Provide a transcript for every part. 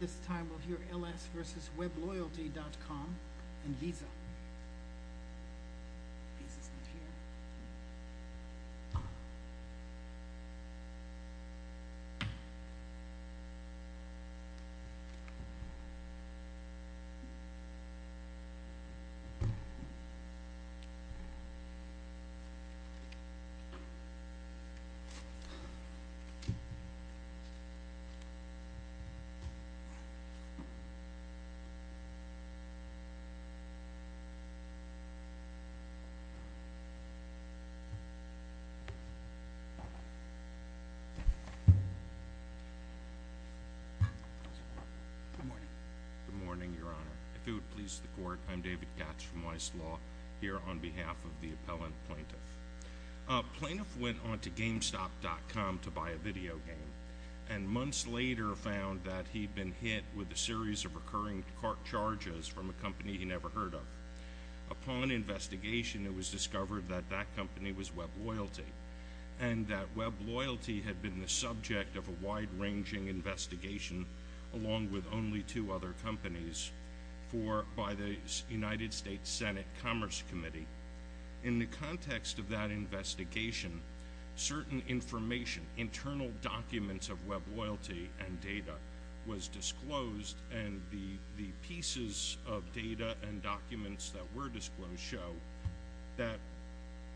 This time we'll hear L.S. v. Webloyalty.com and Visa. Visa's not here. Good morning, Your Honor. If it would please the court, I'm David Gatch from Weiss Law here on behalf of the appellant plaintiff. Plaintiff went on to GameStop.com to buy a video game and months later found that he'd been hit with a series of recurring court charges from a company he never heard of. Upon investigation, it was discovered that that company was WebLoyalty and that WebLoyalty had been the subject of a wide-ranging investigation, along with only two other companies, by the United States Senate Commerce Committee. In the context of that investigation, certain information, internal documents of WebLoyalty and data was disclosed and the pieces of data and documents that were disclosed show that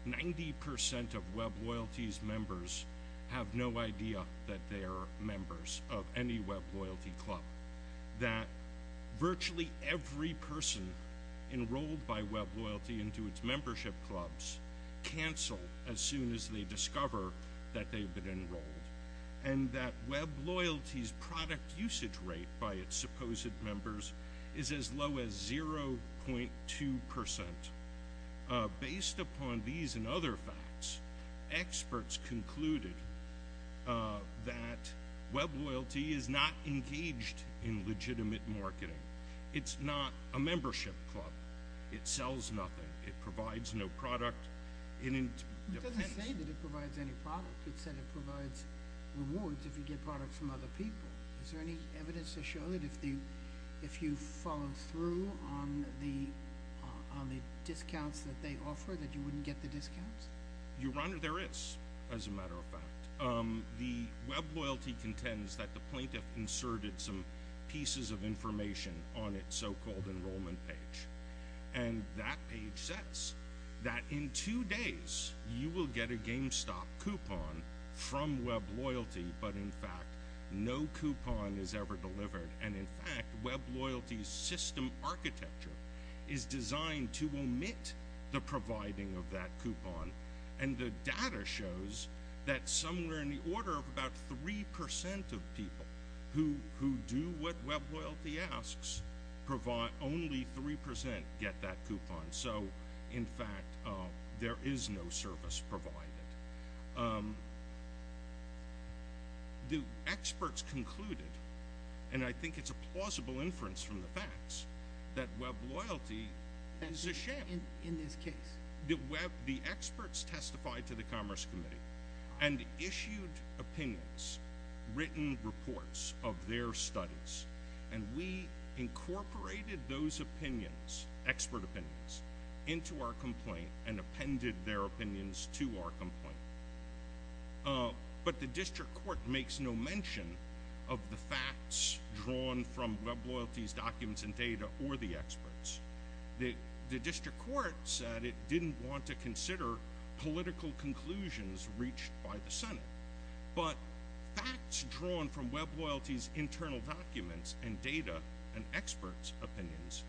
90% of WebLoyalty's members have no idea that they are members of any WebLoyalty club, that virtually every person enrolled by WebLoyalty into its membership clubs cancel as soon as they discover that they've been enrolled, and that WebLoyalty's product usage rate by its supposed members is as low as 0.2%. Based upon these and other facts, experts concluded that WebLoyalty is not engaged in It's not a membership club. It sells nothing. It provides no product. It doesn't say that it provides any product. It said it provides rewards if you get products from other people. Is there any evidence to show that if you followed through on the discounts that they offer that you wouldn't get the discounts? Your Honor, there is, as a matter of fact. The WebLoyalty contends that the plaintiff inserted some pieces of information on its so-called enrollment page, and that page says that in two days you will get a GameStop coupon from WebLoyalty, but in fact no coupon is ever delivered, and in fact WebLoyalty's system architecture is designed to omit the providing of that coupon, and the data shows that somewhere in the order of about 3% of people who do what WebLoyalty asks only 3% get that coupon, so in fact there is no service provided. The experts concluded, and I think it's a plausible inference from the facts, that WebLoyalty is a sham. In this case. The experts testified to the Commerce Committee and issued opinions, written reports of their studies, and we incorporated those opinions, expert opinions, into our complaint and appended their opinions to our complaint, but the District Court makes no mention of the facts drawn from WebLoyalty's documents and data or the experts. The District Court said it didn't want to consider political conclusions reached by the Senate, but facts drawn from WebLoyalty's internal documents and data and experts' opinions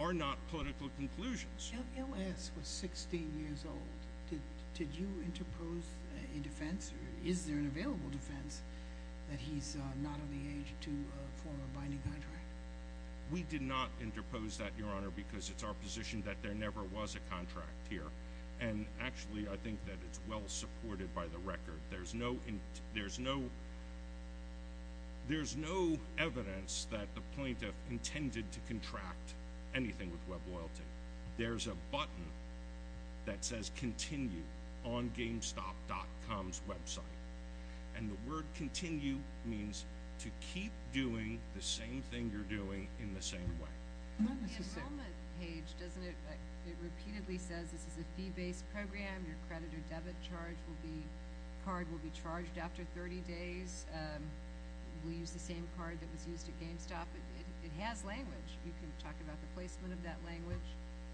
are not political conclusions. If L.S. was 16 years old, did you interpose a defense, or is there an available defense, that he's not of the age to form a binding contract? We did not interpose that, Your Honor, because it's our position that there never was a contract here, and actually I think that it's well supported by the record. There's no evidence that the plaintiff intended to contract anything with WebLoyalty. There's a button that says continue on GameStop.com's website, and the word continue means to keep doing the same thing you're doing in the same way. On the enrollment page, it repeatedly says this is a fee-based program, your credit or debit card will be charged after 30 days, we'll use the same card that was used at GameStop. It has language. You can talk about the placement of that language,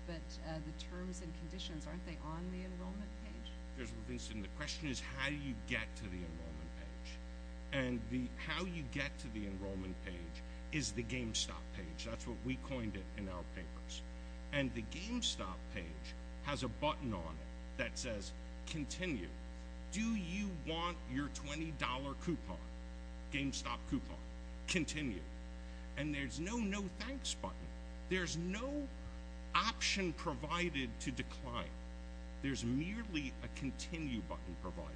but the terms and conditions, aren't they on the enrollment page? The question is how do you get to the enrollment page? And how you get to the enrollment page is the GameStop page. That's what we coined it in our papers. And the GameStop page has a button on it that says continue. Do you want your $20 coupon, GameStop coupon? Continue. And there's no no thanks button. There's no option provided to decline. There's merely a continue button provided.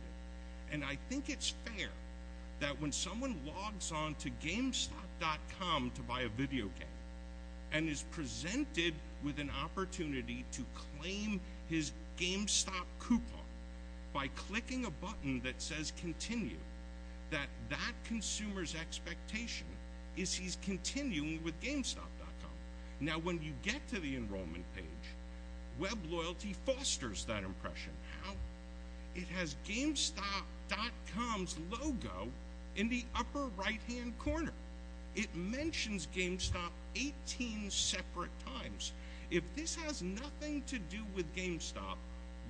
And I think it's fair that when someone logs on to GameStop.com to buy a video game, and is presented with an opportunity to claim his GameStop coupon by clicking a button that says continue, that that consumer's expectation is he's continuing with GameStop.com. Now when you get to the enrollment page, WebLoyalty fosters that impression. How? It has GameStop.com's logo in the upper right-hand corner. It mentions GameStop 18 separate times. If this has nothing to do with GameStop,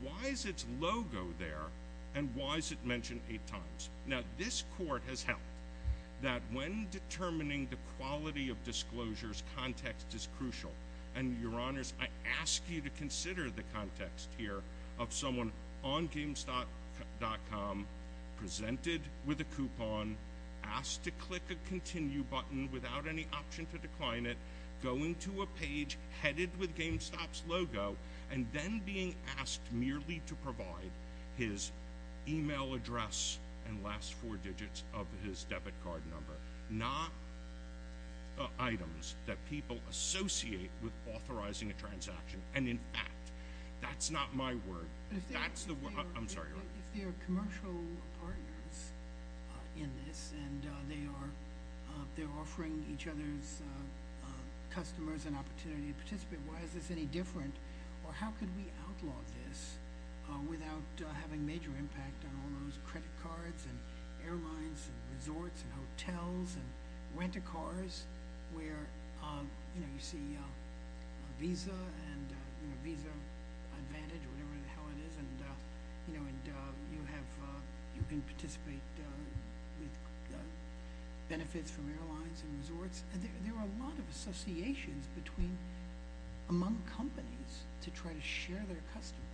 why is its logo there, and why is it mentioned eight times? Now this court has held that when determining the quality of disclosures, context is crucial. And your honors, I ask you to consider the context here of someone on GameStop.com, presented with a coupon, asked to click a continue button without any option to decline it, going to a page headed with GameStop's logo, and then being asked merely to provide his email address and last four digits of his debit card number. Not items that people associate with authorizing a transaction. And in fact, that's not my word. That's the word. I'm sorry, Your Honor. But if they are commercial partners in this, and they are offering each other's customers an opportunity to participate, why is this any different? Or how can we outlaw this without having major impact on all those credit cards and airlines and resorts and hotels and rent-a-cars, where you see Visa and Visa Advantage or whatever the hell it is, and you can participate with benefits from airlines and resorts? There are a lot of associations among companies to try to share their customers.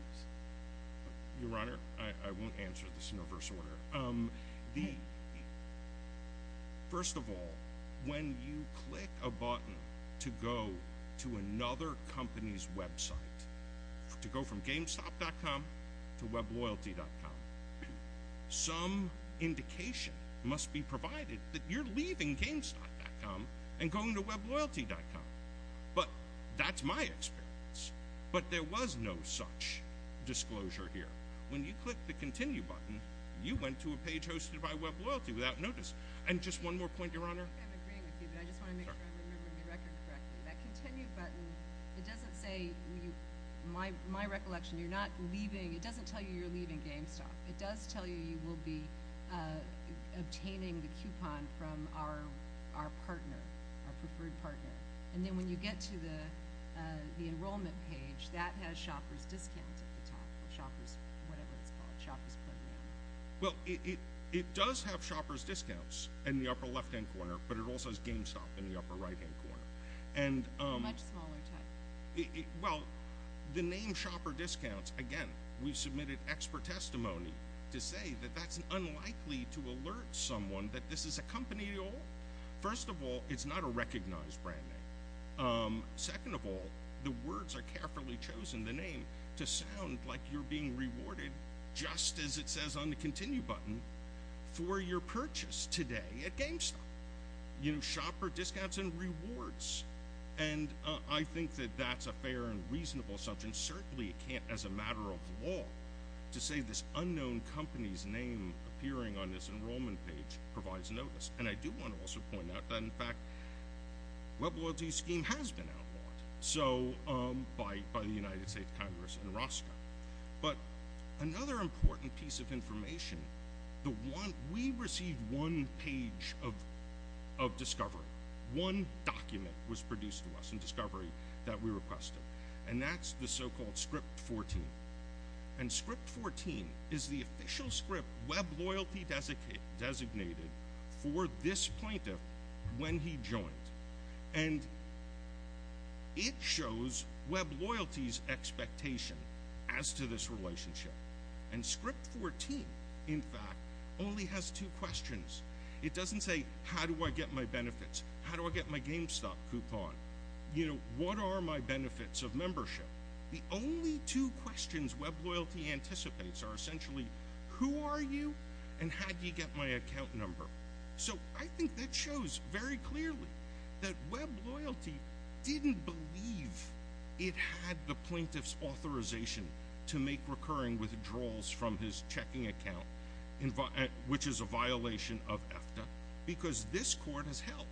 Your Honor, I won't answer this in reverse order. First of all, when you click a button to go to another company's website, to go from GameStop.com to WebLoyalty.com, some indication must be provided that you're leaving GameStop.com and going to WebLoyalty.com. But that's my experience. But there was no such disclosure here. When you click the Continue button, you went to a page hosted by WebLoyalty without notice. And just one more point, Your Honor. I'm agreeing with you, but I just want to make sure I'm remembering the record correctly. That Continue button, it doesn't say, in my recollection, you're not leaving. It doesn't tell you you're leaving GameStop. It does tell you you will be obtaining the coupon from our partner, our preferred partner. And then when you get to the enrollment page, that has Shopper's Discount at the top, or Shopper's whatever it's called, Shopper's Play Name. Well, it does have Shopper's Discounts in the upper left-hand corner, but it also has GameStop in the upper right-hand corner. A much smaller type. Well, the name Shopper's Discounts, again, we submitted expert testimony to say that that's unlikely to alert someone that this is a company at all. First of all, it's not a recognized brand name. Second of all, the words are carefully chosen, the name, to sound like you're being rewarded, just as it says on the Continue button, for your purchase today at GameStop. You know, Shopper's Discounts and Rewards. And I think that that's a fair and reasonable assumption. Certainly, it can't, as a matter of law, to say this unknown company's name appearing on this enrollment page provides notice. And I do want to also point out that, in fact, WebLoyalty Scheme has been outlawed by the United States Congress and ROSCA. But another important piece of information, we received one page of discovery, one document was produced to us in discovery that we requested. And that's the so-called Script 14. And Script 14 is the official script WebLoyalty designated for this plaintiff when he joined. And it shows WebLoyalty's expectation as to this relationship. And Script 14, in fact, only has two questions. It doesn't say, how do I get my benefits? How do I get my GameStop coupon? You know, what are my benefits of membership? The only two questions WebLoyalty anticipates are essentially, who are you and how do you get my account number? So I think that shows very clearly that WebLoyalty didn't believe it had the plaintiff's authorization to make recurring withdrawals from his checking account, which is a violation of EFTA, because this court has held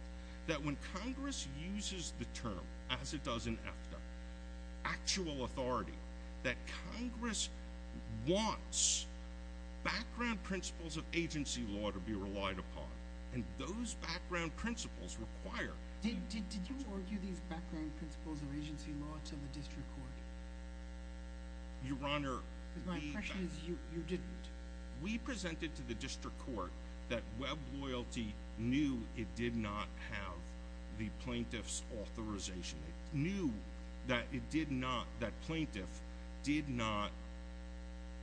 that when Congress uses the term, as it does in EFTA, actual authority, that Congress wants background principles of agency law to be relied upon. And those background principles require— Did you argue these background principles of agency law to the district court? Your Honor— Because my impression is you didn't. We presented to the district court that WebLoyalty knew it did not have the plaintiff's authorization. It knew that it did not—that plaintiff did not—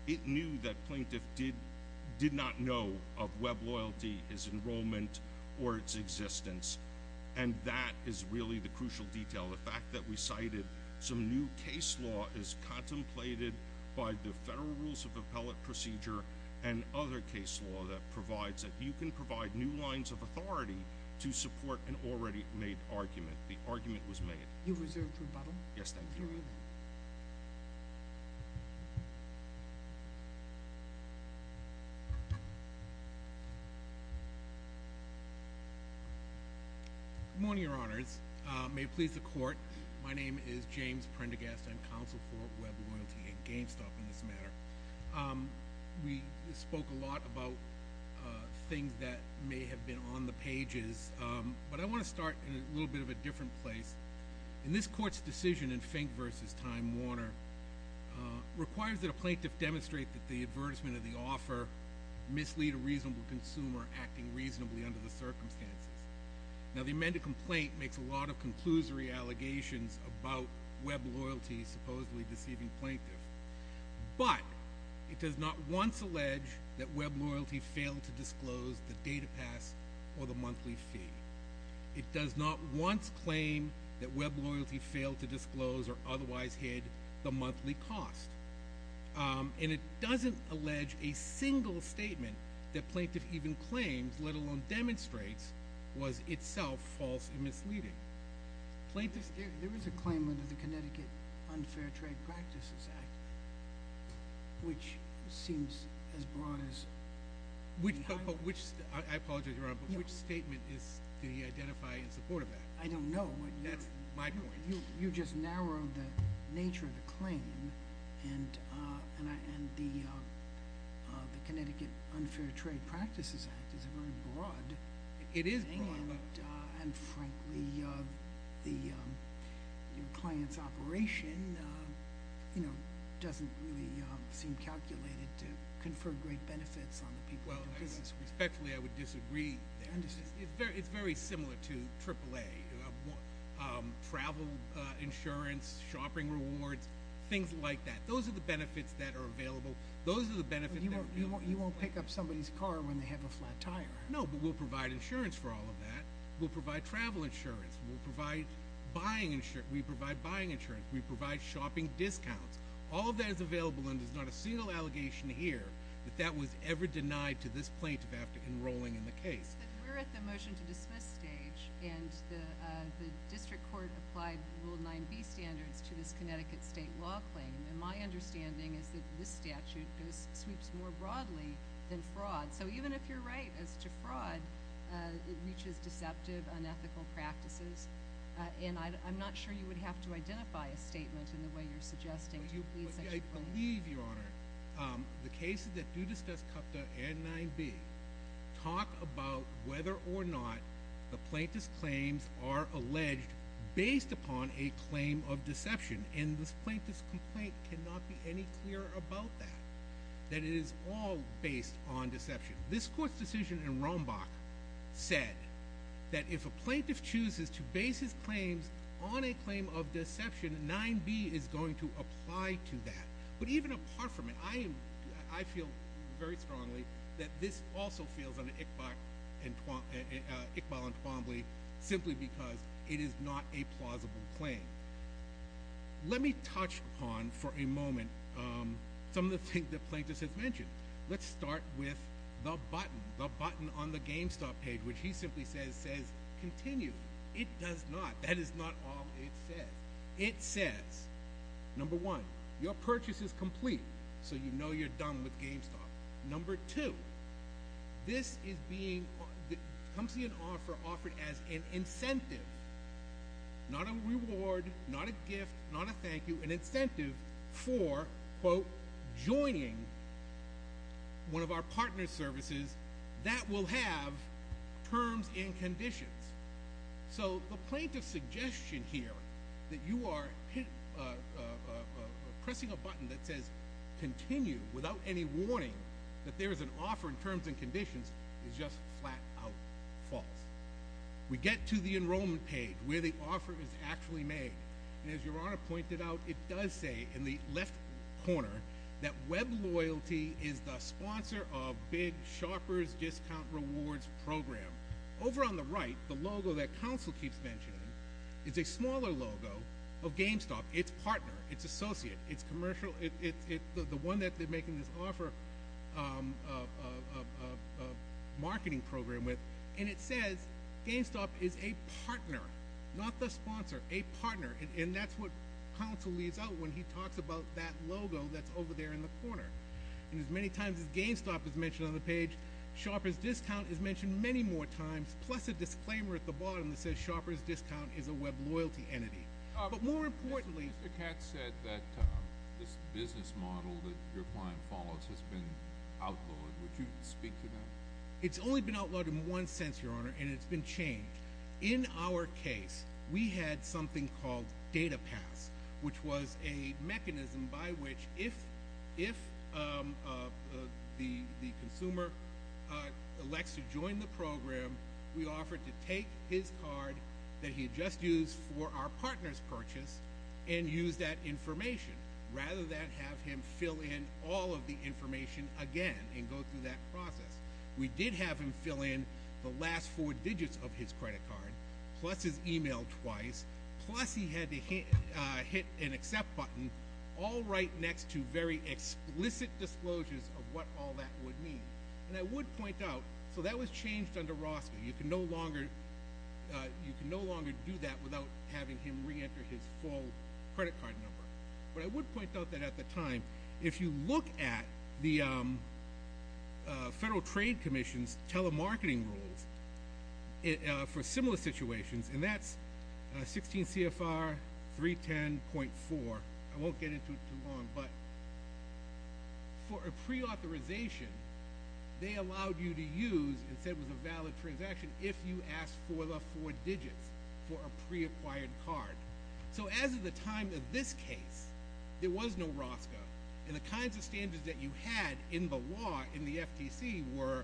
it knew that plaintiff did not know of WebLoyalty, his enrollment, or its existence, and that is really the crucial detail, the fact that we cited some new case law as contemplated by the Federal Rules of Appellate Procedure and other case law that provides it. You can provide new lines of authority to support an already made argument. The argument was made. You've reserved rebuttal. Yes, thank you. Good morning, Your Honors. May it please the Court, my name is James Prendergast. I'm counsel for WebLoyalty and GameStop in this matter. We spoke a lot about things that may have been on the pages, but I want to start in a little bit of a different place. In this court's decision in Fink v. Time Warner, requires that a plaintiff demonstrate that the advertisement of the offer mislead a reasonable consumer acting reasonably under the circumstances. Now, the amended complaint makes a lot of conclusory allegations about WebLoyalty supposedly deceiving plaintiff, but it does not once allege that WebLoyalty failed to disclose the data pass or the monthly fee. It does not once claim that WebLoyalty failed to disclose or otherwise hid the monthly cost. And it doesn't allege a single statement that plaintiff even claims, let alone demonstrates, was itself false and misleading. There is a claim under the Connecticut Unfair Trade Practices Act, which seems as broad as... I apologize, Your Honor, but which statement do you identify in support of that? I don't know. That's my point. You just narrowed the nature of the claim, and the Connecticut Unfair Trade Practices Act is a very broad thing. It is broad. And, frankly, the client's operation, you know, doesn't really seem calculated to confer great benefits on the people who do business with them. Well, respectfully, I would disagree there. I understand. It's very similar to AAA, travel insurance, shopping rewards, things like that. Those are the benefits that are available. Those are the benefits that... You won't pick up somebody's car when they have a flat tire. No, but we'll provide insurance for all of that. We'll provide travel insurance. We'll provide buying insurance. We provide buying insurance. We provide shopping discounts. All of that is available, and there's not a single allegation here that that was ever denied to this plaintiff after enrolling in the case. It's just that we're at the motion-to-dismiss stage, and the district court applied Rule 9b standards to this Connecticut state law claim, and my understanding is that this statute sweeps more broadly than fraud. So even if you're right as to fraud, it reaches deceptive, unethical practices, and I'm not sure you would have to identify a statement in the way you're suggesting to plead such a claim. I believe, Your Honor, the cases that do discuss CUPTA and 9b talk about whether or not the plaintiff's claims are alleged based upon a claim of deception, and this plaintiff's complaint cannot be any clearer about that, that it is all based on deception. This court's decision in Rombach said that if a plaintiff chooses to base his claims on a claim of deception, 9b is going to apply to that. But even apart from it, I feel very strongly that this also feels on Iqbal and Twombly simply because it is not a plausible claim. Let me touch upon for a moment some of the things the plaintiff has mentioned. Let's start with the button, the button on the GameStop page, which he simply says, says, continue. It does not. That is not all it says. It says, number one, your purchase is complete, so you know you're done with GameStop. Number two, this is being offered as an incentive, not a reward, not a gift, not a thank you, an incentive for, quote, joining one of our partner services that will have terms and conditions. So the plaintiff's suggestion here that you are pressing a button that says continue without any warning that there is an offer in terms and conditions is just flat-out false. We get to the enrollment page where the offer is actually made. And as Your Honor pointed out, it does say in the left corner that Web Loyalty is the sponsor of Big Sharper's Discount Rewards Program. Over on the right, the logo that counsel keeps mentioning is a smaller logo of GameStop. It's partner. It's associate. It's commercial. It's the one that they're making this offer of marketing program with. And it says GameStop is a partner, not the sponsor, a partner. And that's what counsel leaves out when he talks about that logo that's over there in the corner. And as many times as GameStop is mentioned on the page, Sharper's Discount is mentioned many more times, plus a disclaimer at the bottom that says Sharper's Discount is a Web Loyalty entity. But more importantly — Mr. Katz said that this business model that your client follows has been outlawed. Would you speak to that? It's only been outlawed in one sense, Your Honor, and it's been changed. In our case, we had something called data pass, which was a mechanism by which if the consumer elects to join the program, we offered to take his card that he had just used for our partner's purchase and use that information rather than have him fill in all of the information again and go through that process. We did have him fill in the last four digits of his credit card, plus his email twice, plus he had to hit an accept button, all right next to very explicit disclosures of what all that would mean. And I would point out, so that was changed under Roscoe. You can no longer do that without having him reenter his full credit card number. But I would point out that at the time, if you look at the Federal Trade Commission's telemarketing rules for similar situations, and that's 16 CFR 310.4. I won't get into it too long. But for a preauthorization, they allowed you to use and said it was a valid transaction if you asked for the four digits for a preacquired card. So as of the time of this case, there was no Roscoe. And the kinds of standards that you had in the law in the FTC were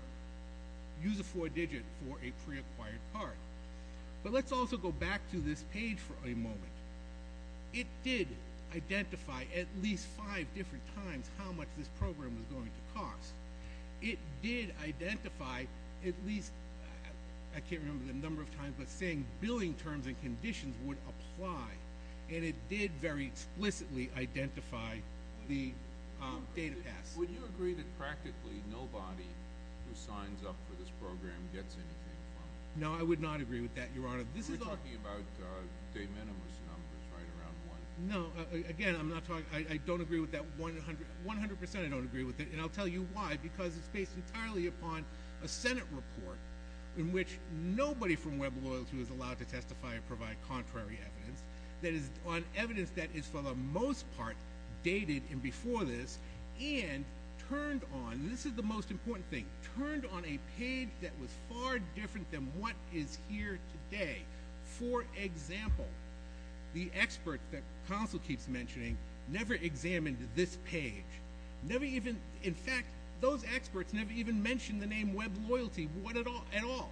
use a four digit for a preacquired card. But let's also go back to this page for a moment. It did identify at least five different times how much this program was going to cost. It did identify at least, I can't remember the number of times, but saying billing terms and conditions would apply. And it did very explicitly identify the data pass. Would you agree that practically nobody who signs up for this program gets anything from it? No, I would not agree with that, Your Honor. We're talking about de minimis numbers, right, around one. No, again, I don't agree with that 100%. I don't agree with it. And I'll tell you why. Because it's based entirely upon a Senate report in which nobody from Web Loyalty was allowed to testify and provide contrary evidence. That is, on evidence that is for the most part dated and before this and turned on. This is the most important thing. Turned on a page that was far different than what is here today. For example, the expert that counsel keeps mentioning never examined this page. In fact, those experts never even mentioned the name Web Loyalty at all.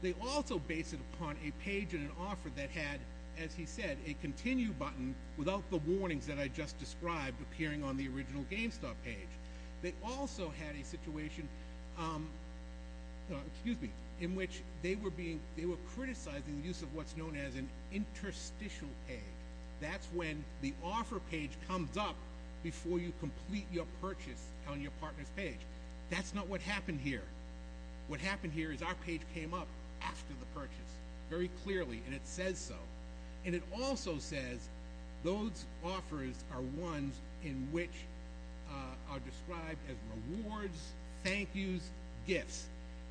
They also base it upon a page and an offer that had, as he said, a continue button without the warnings that I just described appearing on the original GameStop page. They also had a situation in which they were criticizing the use of what's known as an interstitial page. That's when the offer page comes up before you complete your purchase on your partner's page. That's not what happened here. What happened here is our page came up after the purchase very clearly, and it says so. And it also says those offers are ones in which are described as rewards, thank yous, gifts.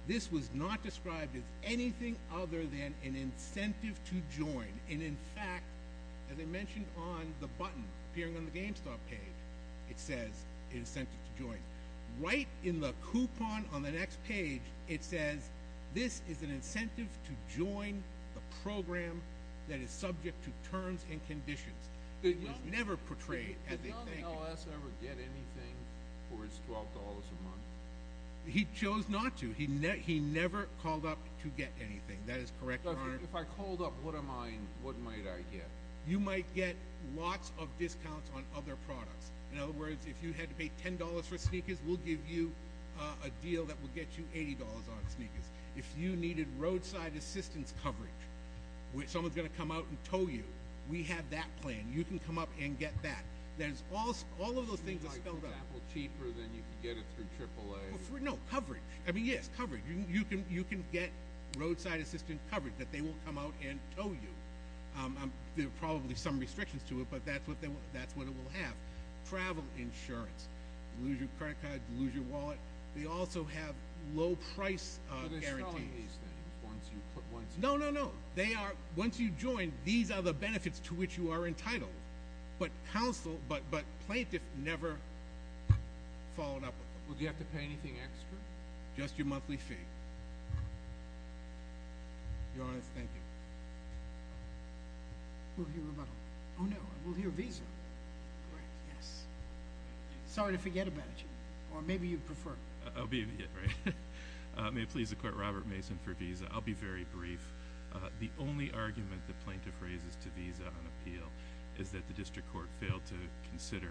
This was not described as anything other than an incentive to join. And, in fact, as I mentioned on the button appearing on the GameStop page, it says incentive to join. Right in the coupon on the next page, it says this is an incentive to join the program that is subject to terms and conditions. It was never portrayed as a thank you. Did Young LS ever get anything for his $12 a month? He chose not to. He never called up to get anything. That is correct, Your Honor. If I called up, what might I get? You might get lots of discounts on other products. In other words, if you had to pay $10 for sneakers, we'll give you a deal that will get you $80 on sneakers. If you needed roadside assistance coverage, someone's going to come out and tow you, we have that plan. You can come up and get that. All of those things are spelled out. Cheaper than you can get it through AAA? No, coverage. I mean, yes, coverage. You can get roadside assistance coverage that they will come out and tow you. There are probably some restrictions to it, but that's what it will have. Travel insurance. Lose your credit card, lose your wallet. They also have low price guarantees. Are they selling these things once you put one through? No, no, no. Once you join, these are the benefits to which you are entitled. But counsel, but plaintiff never followed up with them. Would you have to pay anything extra? Just your monthly fee. Your Honor, thank you. We'll hear about it later. Oh, no, we'll hear Visa. Great. Yes. Sorry to forget about it. Or maybe you prefer. I'll be immediate, right? May it please the Court, Robert Mason for Visa. I'll be very brief. The only argument that plaintiff raises to Visa on appeal is that the district court failed to consider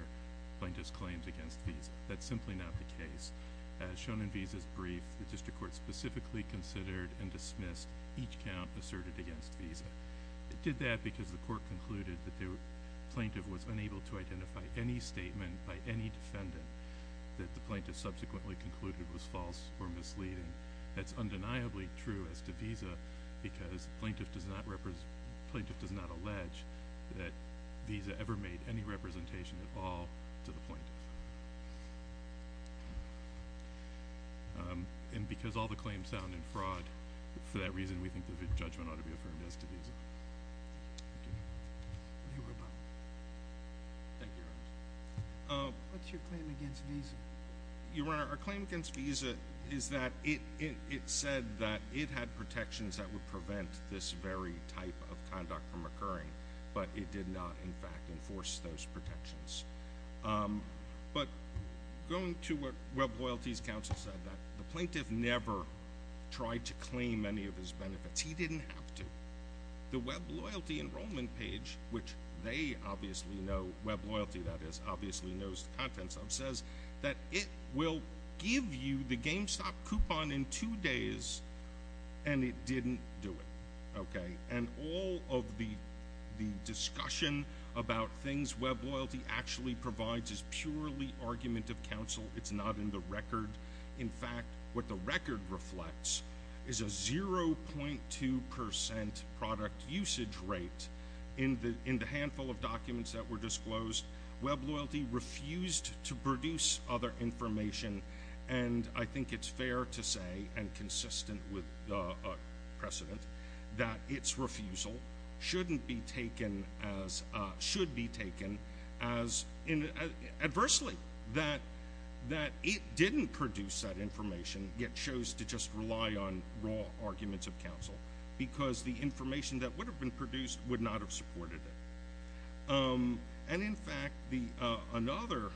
plaintiff's claims against Visa. That's simply not the case. As shown in Visa's brief, the district court specifically considered and dismissed each count asserted against Visa. It did that because the court concluded that the plaintiff was unable to identify any statement by any defendant that the plaintiff subsequently concluded was false or misleading. That's undeniably true as to Visa because plaintiff does not allege that Visa ever made any representation at all to the plaintiff. And because all the claims sound in fraud, for that reason, we think the judgment ought to be affirmed as to Visa. Thank you. We'll hear about it. Thank you, Your Honor. What's your claim against Visa? Your Honor, our claim against Visa is that it said that it had protections that would prevent this very type of conduct from occurring, but it did not, in fact, enforce those protections. But going to what Web Loyalty's counsel said, that the plaintiff never tried to claim any of his benefits. He didn't have to. The Web Loyalty enrollment page, which they obviously know, Web Loyalty, that is, obviously knows the contents of, says that it will give you the GameStop coupon in two days, and it didn't do it. And all of the discussion about things Web Loyalty actually provides is purely argument of counsel. It's not in the record. In fact, what the record reflects is a 0.2% product usage rate in the handful of documents that were disclosed. Web Loyalty refused to produce other information, and I think it's fair to say, and consistent with precedent, that its refusal shouldn't be taken as, should be taken as, adversely, that it didn't produce that information, yet chose to just rely on raw arguments of counsel, because the information that would have been produced would not have supported it. And, in fact, another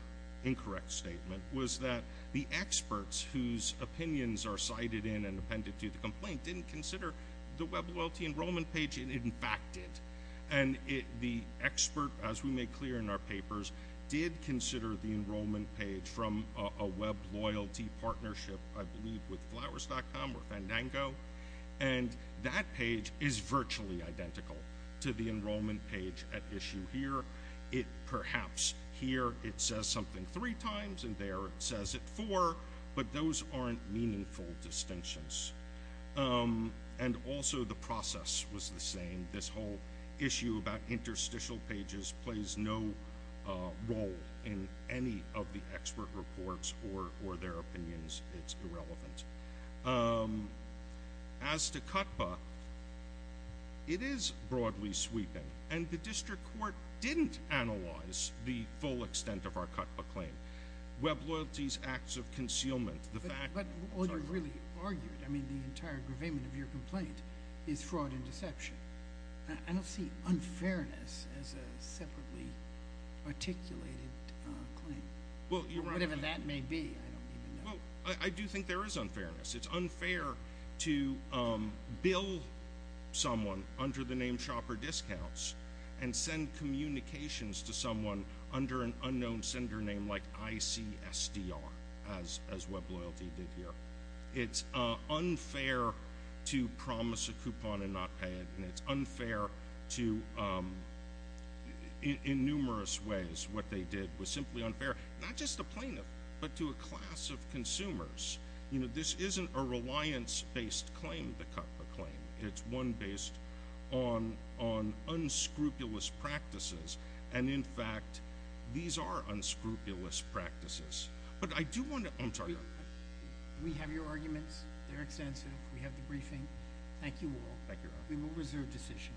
incorrect statement was that the experts whose opinions are cited in and appended to the complaint didn't consider the Web Loyalty enrollment page, and, in fact, did. And the expert, as we made clear in our papers, did consider the enrollment page from a Web Loyalty partnership, I believe with Flowers.com or Fandango, and that page is virtually identical to the enrollment page at issue here. Perhaps here it says something three times and there it says it four, but those aren't meaningful distinctions. And also the process was the same. This whole issue about interstitial pages plays no role in any of the expert reports or their opinions. It's irrelevant. As to CUTPA, it is broadly sweeping. And the district court didn't analyze the full extent of our CUTPA claim. Web Loyalty's acts of concealment, the fact- But all you really argued, I mean, the entire gravamen of your complaint, is fraud and deception. I don't see unfairness as a separately articulated claim. Well, you're right- Whatever that may be, I don't even know. Well, I do think there is unfairness. It's unfair to bill someone under the name Shopper Discounts and send communications to someone under an unknown sender name like ICSDR, as Web Loyalty did here. It's unfair to promise a coupon and not pay it. And it's unfair to, in numerous ways, what they did was simply unfair, not just to plaintiffs, but to a class of consumers. You know, this isn't a reliance-based claim, the CUTPA claim. It's one based on unscrupulous practices. And, in fact, these are unscrupulous practices. But I do want to- We have your arguments. They're extensive. We have the briefing. Thank you all. We will reserve decision.